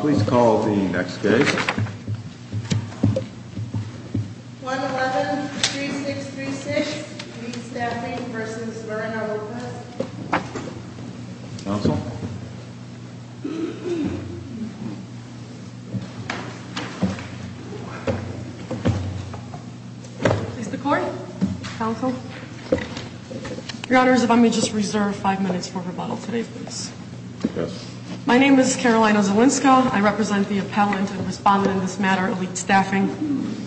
Please call the next case. 111-3636, Weed Staffing v. Werner Workers' Counsel? Is the court? Counsel? Your Honor, if I may just reserve five minutes for rebuttal today, please. Yes. My name is Carolina Zielinska. I represent the appellant and respondent in this matter, Elite Staffing.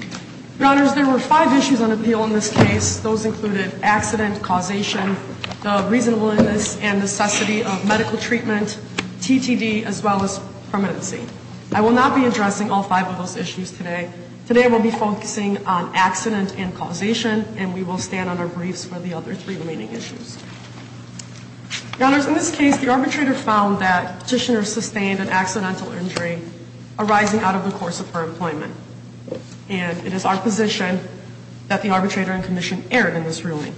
Your Honors, there were five issues on appeal in this case. Those included accident, causation, the reasonableness and necessity of medical treatment, TTD, as well as permanency. I will not be addressing all five of those issues today. Today we'll be focusing on accident and causation, and we will stand on our briefs for the other three remaining issues. Your Honors, in this case, the arbitrator found that Petitioner sustained an accidental injury arising out of the course of her employment. And it is our position that the arbitrator and commission erred in this ruling.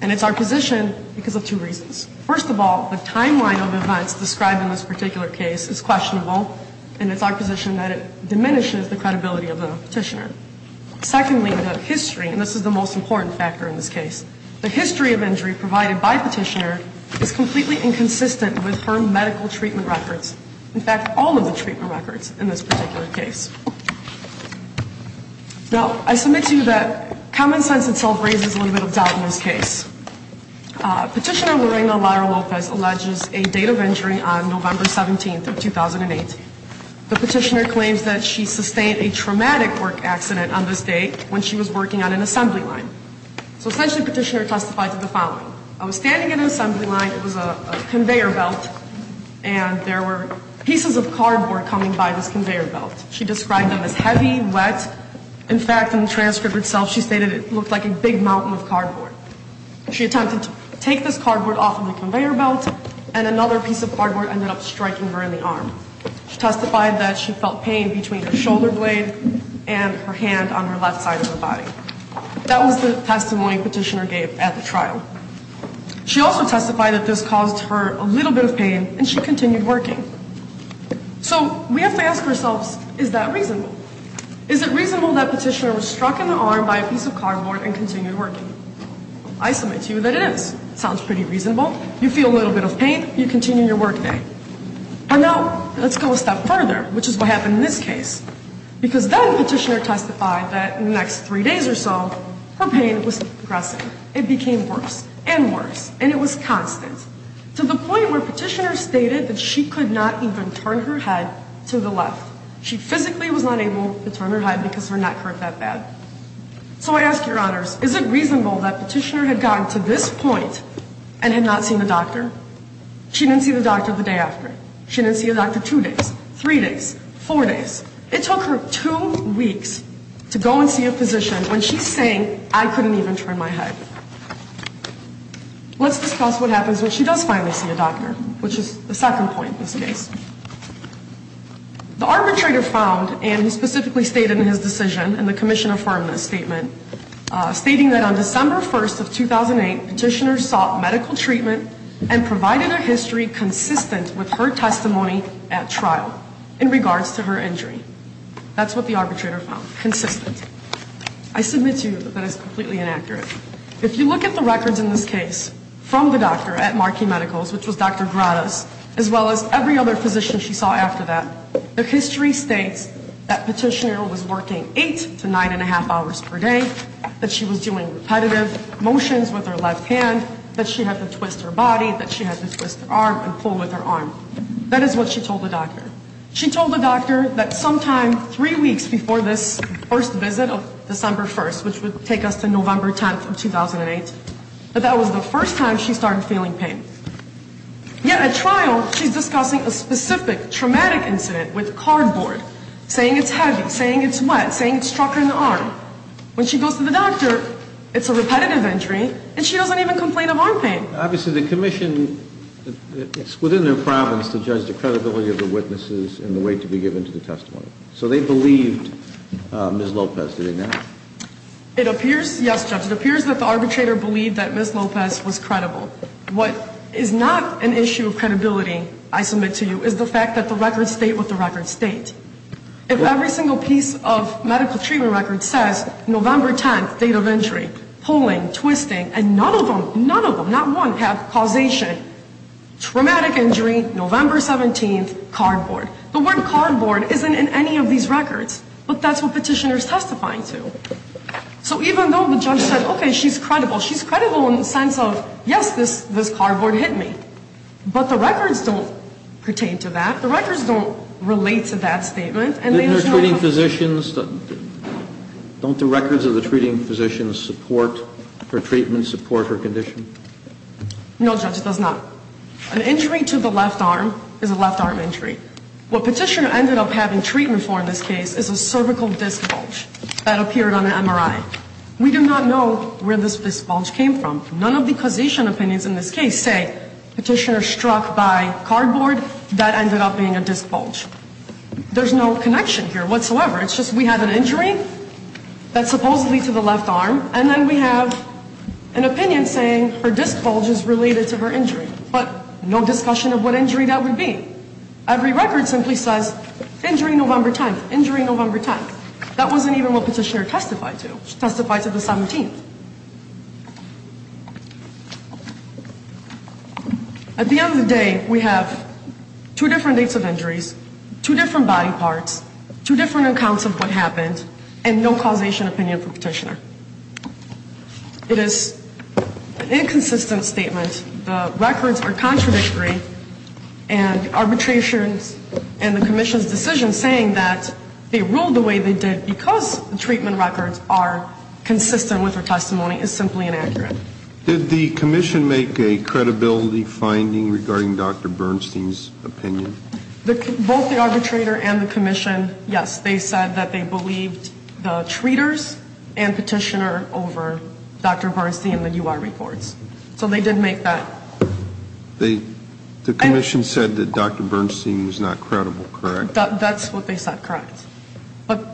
And it's our position because of two reasons. First of all, the timeline of events described in this particular case is questionable, and it's our position that it diminishes the credibility of the Petitioner. Secondly, the history, and this is the most important factor in this case, the history of injury provided by Petitioner is completely inconsistent with her medical treatment records. In fact, all of the treatment records in this particular case. Now, I submit to you that common sense itself raises a little bit of doubt in this case. Petitioner Lorena Lara Lopez alleges a date of injury on November 17th of 2008. The Petitioner claims that she sustained a traumatic work accident on this date when she was working on an assembly line. So essentially, Petitioner testified to the following. I was standing in an assembly line, it was a conveyor belt, and there were pieces of cardboard coming by this conveyor belt. She described them as heavy, wet. In fact, in the transcript itself, she stated it looked like a big mountain of cardboard. She attempted to take this cardboard off of the conveyor belt, and another piece of cardboard ended up striking her in the arm. She testified that she felt pain between her shoulder blade and her hand on her left side of the body. That was the testimony Petitioner gave at the trial. She also testified that this caused her a little bit of pain, and she continued working. So, we have to ask ourselves, is that reasonable? Is it reasonable that Petitioner was struck in the arm by a piece of cardboard and continued working? I submit to you that it is. It sounds pretty reasonable. You feel a little bit of pain, you continue your work day. And now, let's go a step further, which is what happened in this case. Because then Petitioner testified that in the next three days or so, her pain was progressing. It became worse and worse, and it was constant, to the point where Petitioner stated that she could not even turn her head to the left. She physically was not able to turn her head because her neck hurt that bad. So I ask Your Honors, is it reasonable that Petitioner had gotten to this point and had not seen a doctor? She didn't see the doctor the day after. She didn't see a doctor two days, three days, four days. It took her two weeks to go and see a physician when she's saying, I couldn't even turn my head. Let's discuss what happens when she does finally see a doctor, which is the second point in this case. The arbitrator found, and he specifically stated in his decision, in the Commission Affirmative Statement, stating that on December 1st of 2008, Petitioner sought medical treatment and provided a history consistent with her testimony at trial in regards to her injury. That's what the arbitrator found, consistent. I submit to you that that is completely inaccurate. If you look at the records in this case from the doctor at Markey Medicals, which was Dr. Grados, as well as every other physician she saw after that, the history states that Petitioner was working eight to nine and a half hours per day, that she was doing repetitive motions with her left hand, that she had to twist her body, that she had to twist her arm and pull with her arm. That is what she told the doctor. She told the doctor that sometime three weeks before this first visit of December 1st, which would take us to November 10th of 2008, that that was the first time she started feeling pain. Yet at trial, she's discussing a specific traumatic incident with cardboard, saying it's heavy, saying it's wet, saying it struck her in the arm. When she goes to the doctor, it's a repetitive injury, and she doesn't even complain of arm pain. Obviously the Commission, it's within their province to judge the credibility of the witnesses and the weight to be given to the testimony. So they believed Ms. Lopez, do they not? It appears, yes, Judge, it appears that the arbitrator believed that Ms. Lopez was credible. What is not an issue of credibility, I submit to you, is the fact that the records state what the records state. If every single piece of medical treatment record says November 10th, date of injury, pulling, twisting, and none of them, none of them, not one, have causation, traumatic injury, November 17th, cardboard. The word cardboard isn't in any of these records, but that's what Petitioner is testifying to. So even though the judge said, okay, she's credible, she's credible in the sense of, yes, this cardboard hit me. But the records don't pertain to that. The records don't relate to that statement. Didn't her treating physicians, don't the records of the treating physicians support her treatment, support her condition? No, Judge, it does not. An injury to the left arm is a left arm injury. What Petitioner ended up having treatment for in this case is a cervical disc bulge that appeared on an MRI. We do not know where this disc bulge came from. None of the causation opinions in this case say Petitioner struck by cardboard. That ended up being a disc bulge. There's no connection here whatsoever. It's just we have an injury that's supposedly to the left arm, and then we have an opinion saying her disc bulge is related to her injury. But no discussion of what injury that would be. Every record simply says injury November 10th, injury November 10th. That wasn't even what Petitioner testified to. She testified to the 17th. At the end of the day, we have two different dates of injuries, two different body parts, two different accounts of what happened, and no causation opinion for Petitioner. It is an inconsistent statement. The records are contradictory, and arbitrations and the commission's decision in saying that they ruled the way they did because the treatment records are consistent with her testimony is simply inaccurate. Did the commission make a credibility finding regarding Dr. Bernstein's opinion? Both the arbitrator and the commission, yes. They said that they believed the treaters and Petitioner over Dr. Bernstein and the U.R. reports. So they did make that. The commission said that Dr. Bernstein was not credible, correct? That's what they said, correct. But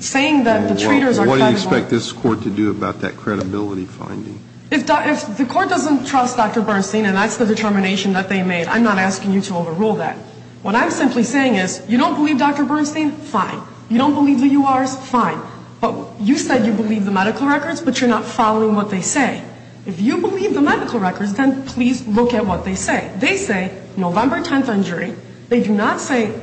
saying that the treaters are credible. What do you expect this court to do about that credibility finding? If the court doesn't trust Dr. Bernstein, and that's the determination that they made, I'm not asking you to overrule that. What I'm simply saying is you don't believe Dr. Bernstein, fine. You don't believe the U.R.s., fine. But you said you believe the medical records, but you're not following what they say. If you believe the medical records, then please look at what they say. They say November 10th injury. They do not say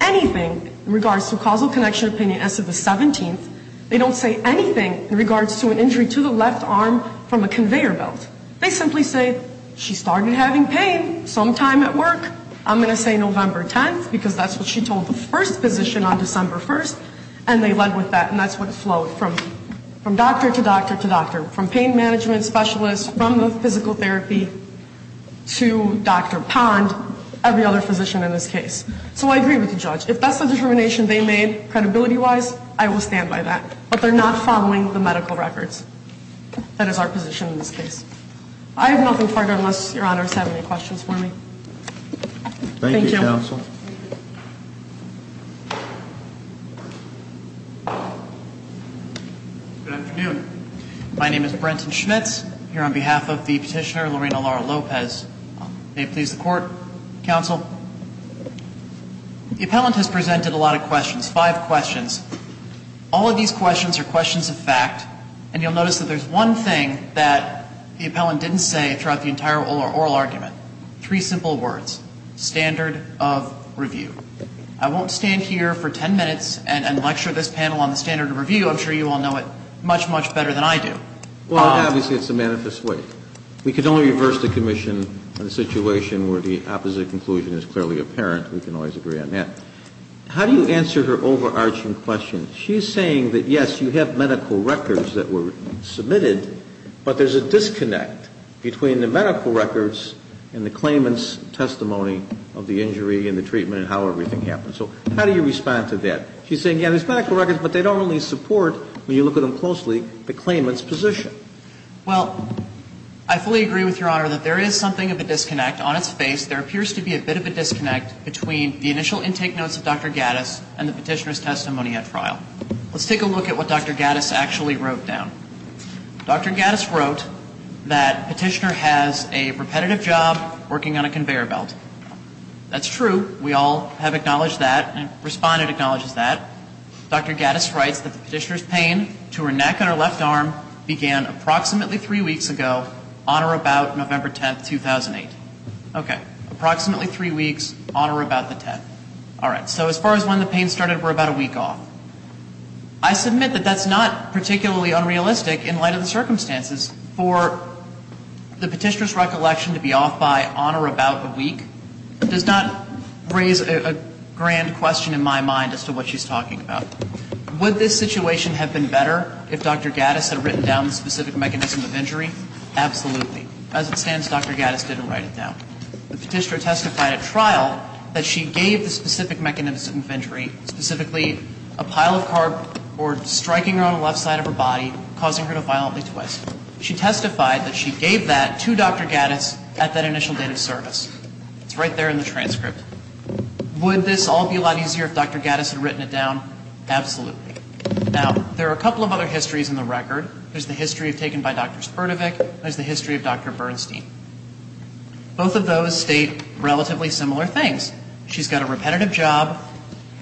anything in regards to causal connection opinion as to the 17th. They don't say anything in regards to an injury to the left arm from a conveyor belt. They simply say she started having pain sometime at work. I'm going to say November 10th, because that's what she told the first physician on December 1st, and they led with that, and that's what flowed from doctor to doctor to doctor, from pain management specialist, from the physical therapy, to Dr. Pond, every other physician in this case. So I agree with the judge. If that's the determination they made, credibility-wise, I will stand by that. But they're not following the medical records. That is our position in this case. I have nothing further, unless Your Honor has any questions for me. Thank you, counsel. Good afternoon. My name is Brenton Schmitz, here on behalf of the petitioner Lorena Lara Lopez. May it please the court, counsel. The appellant has presented a lot of questions, five questions. All of these questions are questions of fact, and you'll notice that there's one thing that the appellant didn't say throughout the entire oral argument. Three simple words. Standard of review. I won't stand here for ten minutes and lecture this panel on the standard of review. I'm sure you all know it much, much better than I do. Well, obviously, it's a manifest way. We can only reverse the commission in a situation where the opposite conclusion is clearly apparent. We can always agree on that. How do you answer her overarching question? She's saying that, yes, you have medical records that were submitted, but there's a disconnect between the medical records and the claimant's testimony of the injury and the treatment and how everything happened. So how do you respond to that? She's saying, yeah, there's medical records, but they don't only support, when you look at them closely, the claimant's position. Well, I fully agree with Your Honor that there is something of a disconnect on its face. There appears to be a bit of a disconnect between the initial intake notes of Dr. Gattis and the petitioner's testimony at trial. Let's take a look at what Dr. Gattis actually wrote down. Dr. Gattis wrote that petitioner has a repetitive job working on a conveyor belt. That's true. We all have acknowledged that. Respondent acknowledges that. Dr. Gattis writes that the petitioner's pain to her neck and her left arm began approximately three weeks ago, on or about November 10, 2008. Okay. Approximately three weeks, on or about the 10th. All right. So as far as when the pain started, we're about a week off. I submit that that's not particularly unrealistic in light of the circumstances. For the petitioner's recollection to be off by on or about a week does not raise a grand question in my mind as to what she's talking about. Would this situation have been better if Dr. Gattis had written down the specific mechanism of injury? Absolutely. As it stands, Dr. Gattis didn't write it down. The petitioner testified at trial that she gave the specific mechanism of injury, specifically a pile of carb or striking her on the left side of her body, causing her to violently twist. She testified that she gave that to Dr. Gattis at that initial date of service. It's right there in the transcript. Would this all be a lot easier if Dr. Gattis had written it down? Absolutely. Now, there are a couple of other histories in the record. There's the history taken by Dr. Spurtevik. There's the history of Dr. Bernstein. Both of those state relatively similar things. She's got a repetitive job.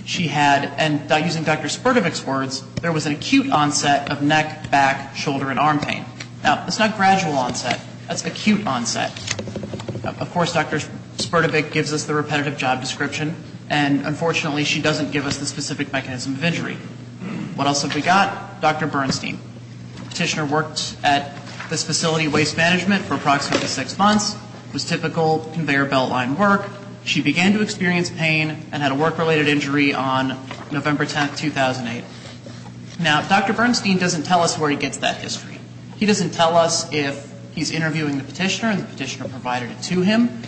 She had, and using Dr. Spurtevik's words, there was an acute onset of neck, back, shoulder, and arm pain. Now, that's not gradual onset. That's acute onset. Of course, Dr. Spurtevik gives us the repetitive job description, and unfortunately, she doesn't give us the specific mechanism of injury. What else have we got? Dr. Bernstein. Petitioner worked at this facility, Waste Management, for approximately six months. It was typical conveyor belt line work. She began to experience pain and had a work-related injury on November 10, 2008. Now, Dr. Bernstein doesn't tell us where he gets that history. He doesn't tell us if he's interviewing the petitioner and the petitioner provided it to him,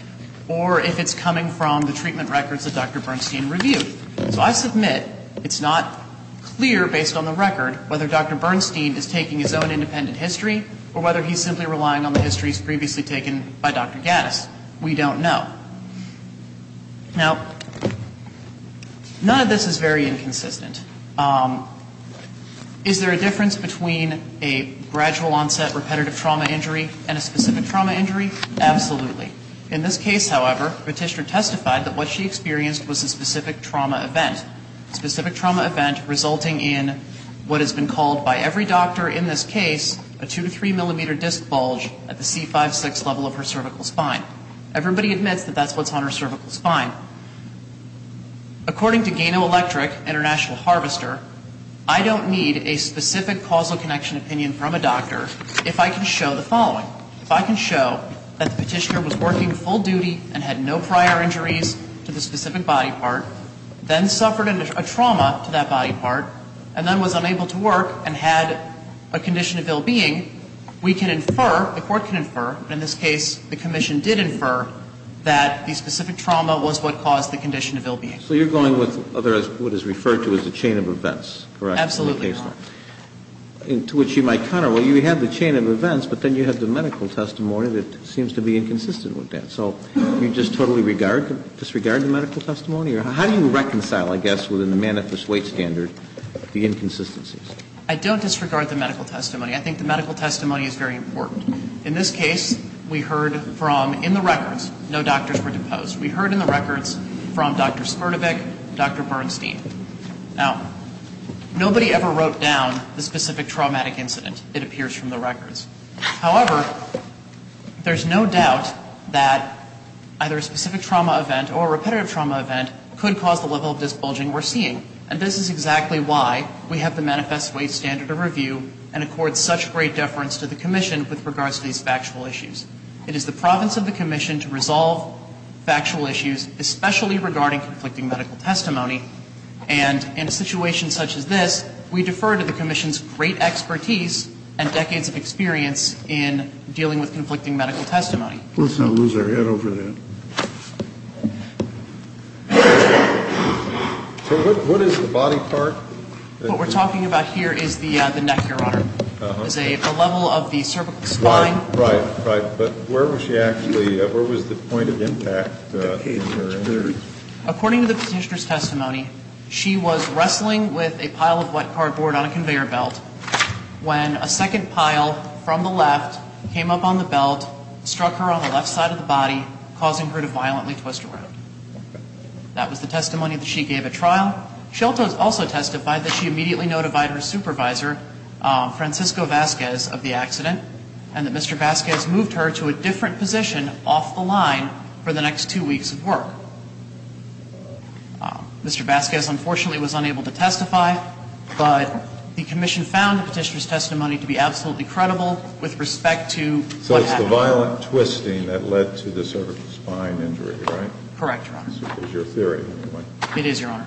or if it's coming from the treatment records that Dr. Bernstein reviewed. So I submit it's not clear, based on the record, whether Dr. Bernstein is taking his own independent history or whether he's simply relying on the histories previously taken by Dr. Gaddis. We don't know. Now, none of this is very inconsistent. Is there a difference between a gradual onset repetitive trauma injury and a specific trauma injury? Absolutely. In this case, however, Petitioner testified that what she experienced was a specific trauma event, a specific trauma event resulting in what has been called by every doctor in this case a two to three millimeter disc bulge at the C5-6 level of her cervical spine. Everybody admits that that's what's on her cervical spine. According to Gano Electric, International Harvester, I don't need a specific causal connection opinion from a doctor if I can show the following. If I can show that the petitioner was working full duty and had no prior injuries to the specific body part, then suffered a trauma to that body part, and then was unable to work and had a condition of ill-being, we can infer, the Court can infer, in this case the Commission did infer, that the specific trauma was what caused the condition of ill-being. So you're going with what is referred to as a chain of events, correct? Absolutely, Your Honor. To which you might counter, well, you have the chain of events, but then you have the medical testimony that seems to be inconsistent with that. So you just totally disregard the medical testimony? How do you reconcile, I guess, within the manifest weight standard, the inconsistencies? I don't disregard the medical testimony. I think the medical testimony is very important. In this case, we heard from, in the records, no doctors were deposed. We heard in the records from Dr. Smirnovich, Dr. Bernstein. Now, nobody ever wrote down the specific traumatic incident, it appears from the records. However, there's no doubt that either a specific trauma event or a repetitive trauma event could cause the level of disbulging we're seeing. And this is exactly why we have the manifest weight standard of review and accord such great deference to the Commission with regards to these factual issues. It is the province of the Commission to resolve factual issues, especially regarding conflicting medical testimony. And in a situation such as this, we defer to the Commission's great expertise and decades of experience in dealing with conflicting medical testimony. Let's not lose our head over that. So what is the body part? What we're talking about here is the neck, Your Honor. It's a level of the cervical spine. Right, right. But where was she actually, where was the point of impact in her injuries? According to the Petitioner's testimony, she was wrestling with a pile of wet cardboard on a conveyor belt when a second pile from the left came up on the belt, struck her on the left side of the body, causing her to violently twist around. That was the testimony that she gave at trial. Shelton also testified that she immediately notified her supervisor, Francisco Vasquez, of the accident, and that Mr. Vasquez moved her to a different position off the line for the next two weeks of work. Mr. Vasquez, unfortunately, was unable to testify, but the Commission found the Petitioner's testimony to be absolutely credible with respect to what happened. So it's the violent twisting that led to the cervical spine injury, right? Correct, Your Honor. It's your theory, anyway. It is, Your Honor.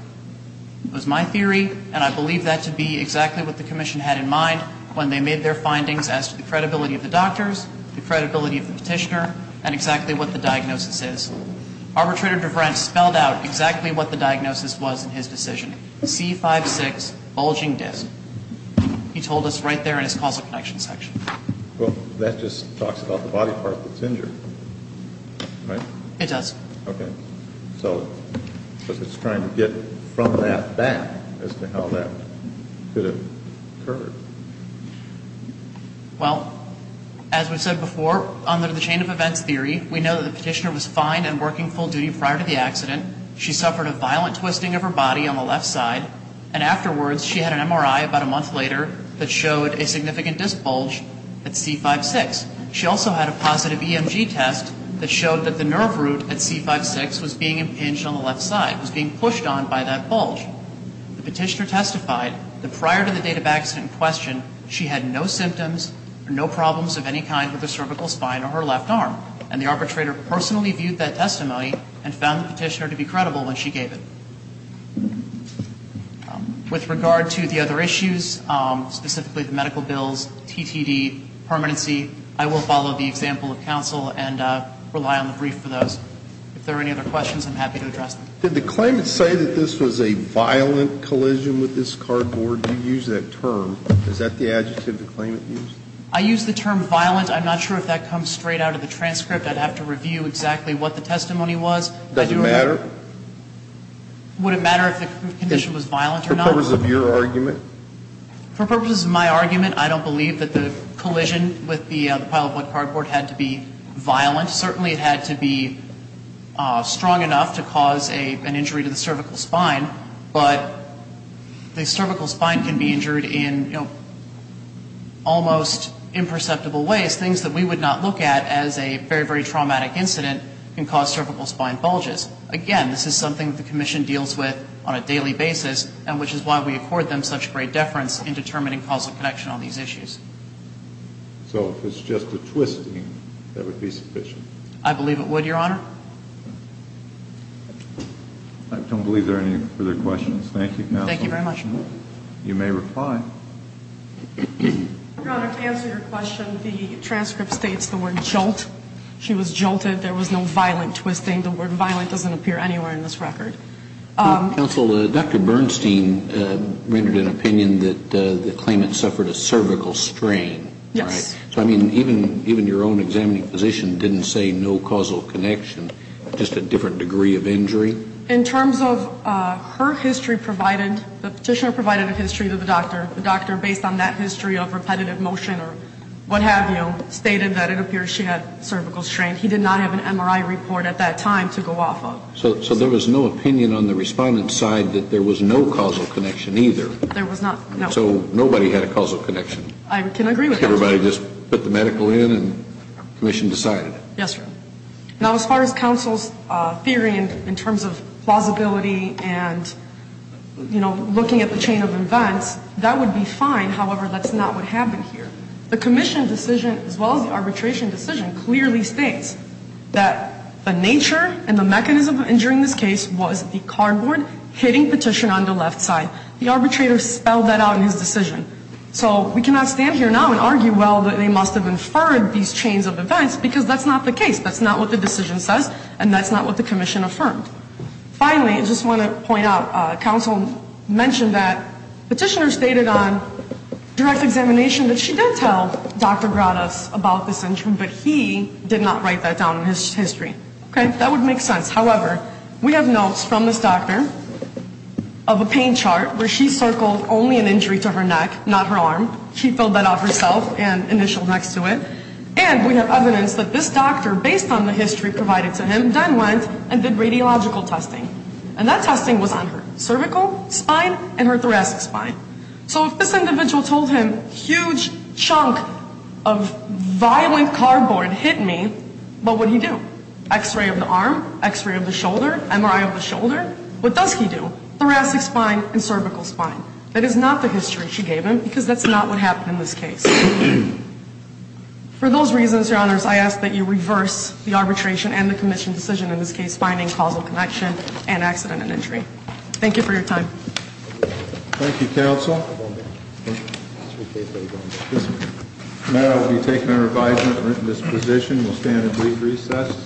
It was my theory, and I believe that to be exactly what the Commission had in mind when they made their findings as to the credibility of the doctors, the credibility of the Petitioner, and exactly what the diagnosis is. Arbitrator DeVrent spelled out exactly what the diagnosis was in his decision. C56, bulging disc. He told us right there in his causal connection section. Well, that just talks about the body part that's injured, right? It does. Okay. So I guess it's trying to get from that back as to how that could have occurred. Well, as we've said before, under the chain of events theory, we know that the Petitioner was fine and working full duty prior to the accident. She suffered a violent twisting of her body on the left side, and afterwards she had an MRI about a month later that showed a significant disc bulge at C56. She also had a positive EMG test that showed that the nerve root at C56 was being impinged on the left side, was being pushed on by that bulge. The Petitioner testified that prior to the date of accident in question, she had no symptoms or no problems of any kind with her cervical spine or her left arm. And the Arbitrator personally viewed that testimony and found the Petitioner to be credible when she gave it. With regard to the other issues, specifically the medical bills, TTD, permanency, I will follow the example of counsel and rely on the brief for those. If there are any other questions, I'm happy to address them. Did the claimant say that this was a violent collision with this cardboard? You used that term. Is that the adjective the claimant used? I used the term violent. I'm not sure if that comes straight out of the transcript. I'd have to review exactly what the testimony was. Does it matter? Would it matter if the condition was violent or not? For purpose of your argument? For purpose of my argument, I don't believe that the collision with the pile of wood cardboard had to be violent. Certainly it had to be strong enough to cause an injury to the cervical spine, but the cervical spine can be injured in almost imperceptible ways. Things that we would not look at as a very, very traumatic incident can cause cervical spine bulges. Again, this is something that the Commission deals with on a daily basis, and which is why we accord them such great deference in determining causal connection on these issues. So if it's just a twisting, that would be sufficient? I believe it would, Your Honor. I don't believe there are any further questions. Thank you, Counsel. Thank you very much. You may reply. Your Honor, to answer your question, the transcript states the word jolt. She was jolted. There was no violent twisting. The word violent doesn't appear anywhere in this record. Counsel, Dr. Bernstein rendered an opinion that the claimant suffered a cervical strain, right? Yes. So, I mean, even your own examining physician didn't say no causal connection, just a different degree of injury? In terms of her history provided, the petitioner provided a history to the doctor. The doctor, based on that history of repetitive motion or what have you, stated that it appears she had cervical strain. He did not have an MRI report at that time to go off of. So there was no opinion on the respondent's side that there was no causal connection either? There was not, no. So nobody had a causal connection? I can agree with that. Everybody just put the medical in and commission decided? Yes, Your Honor. Now, as far as counsel's theory in terms of plausibility and, you know, looking at the chain of events, that would be fine. However, that's not what happened here. The commission decision, as well as the arbitration decision, clearly states that the nature and the mechanism of injuring this case was the cardboard hitting petition on the left side. The petitioner spelled that out in his decision. So we cannot stand here now and argue, well, that they must have inferred these chains of events, because that's not the case. That's not what the decision says, and that's not what the commission affirmed. Finally, I just want to point out, counsel mentioned that petitioner stated on direct examination that she did tell Dr. Grados about this injury, but he did not write that down in his history. Okay? That would make sense. However, we have notes from this doctor who told only an injury to her neck, not her arm. She filled that out herself and initialed next to it. And we have evidence that this doctor, based on the history provided to him, then went and did radiological testing. And that testing was on her cervical spine and her thoracic spine. So if this individual told him huge chunk of violent cardboard hit me, X-ray of the arm? X-ray of the shoulder? MRI of the shoulder? That is not the history she gave him because that's not what happened in this case. For those reasons, your honors, I ask that you reverse the arbitration and the commission decision, in this case finding causal connection and accident and injury. Thank you for your time. Thank you, counsel. This matter will be taken and revised in this position. We'll stand at brief recess.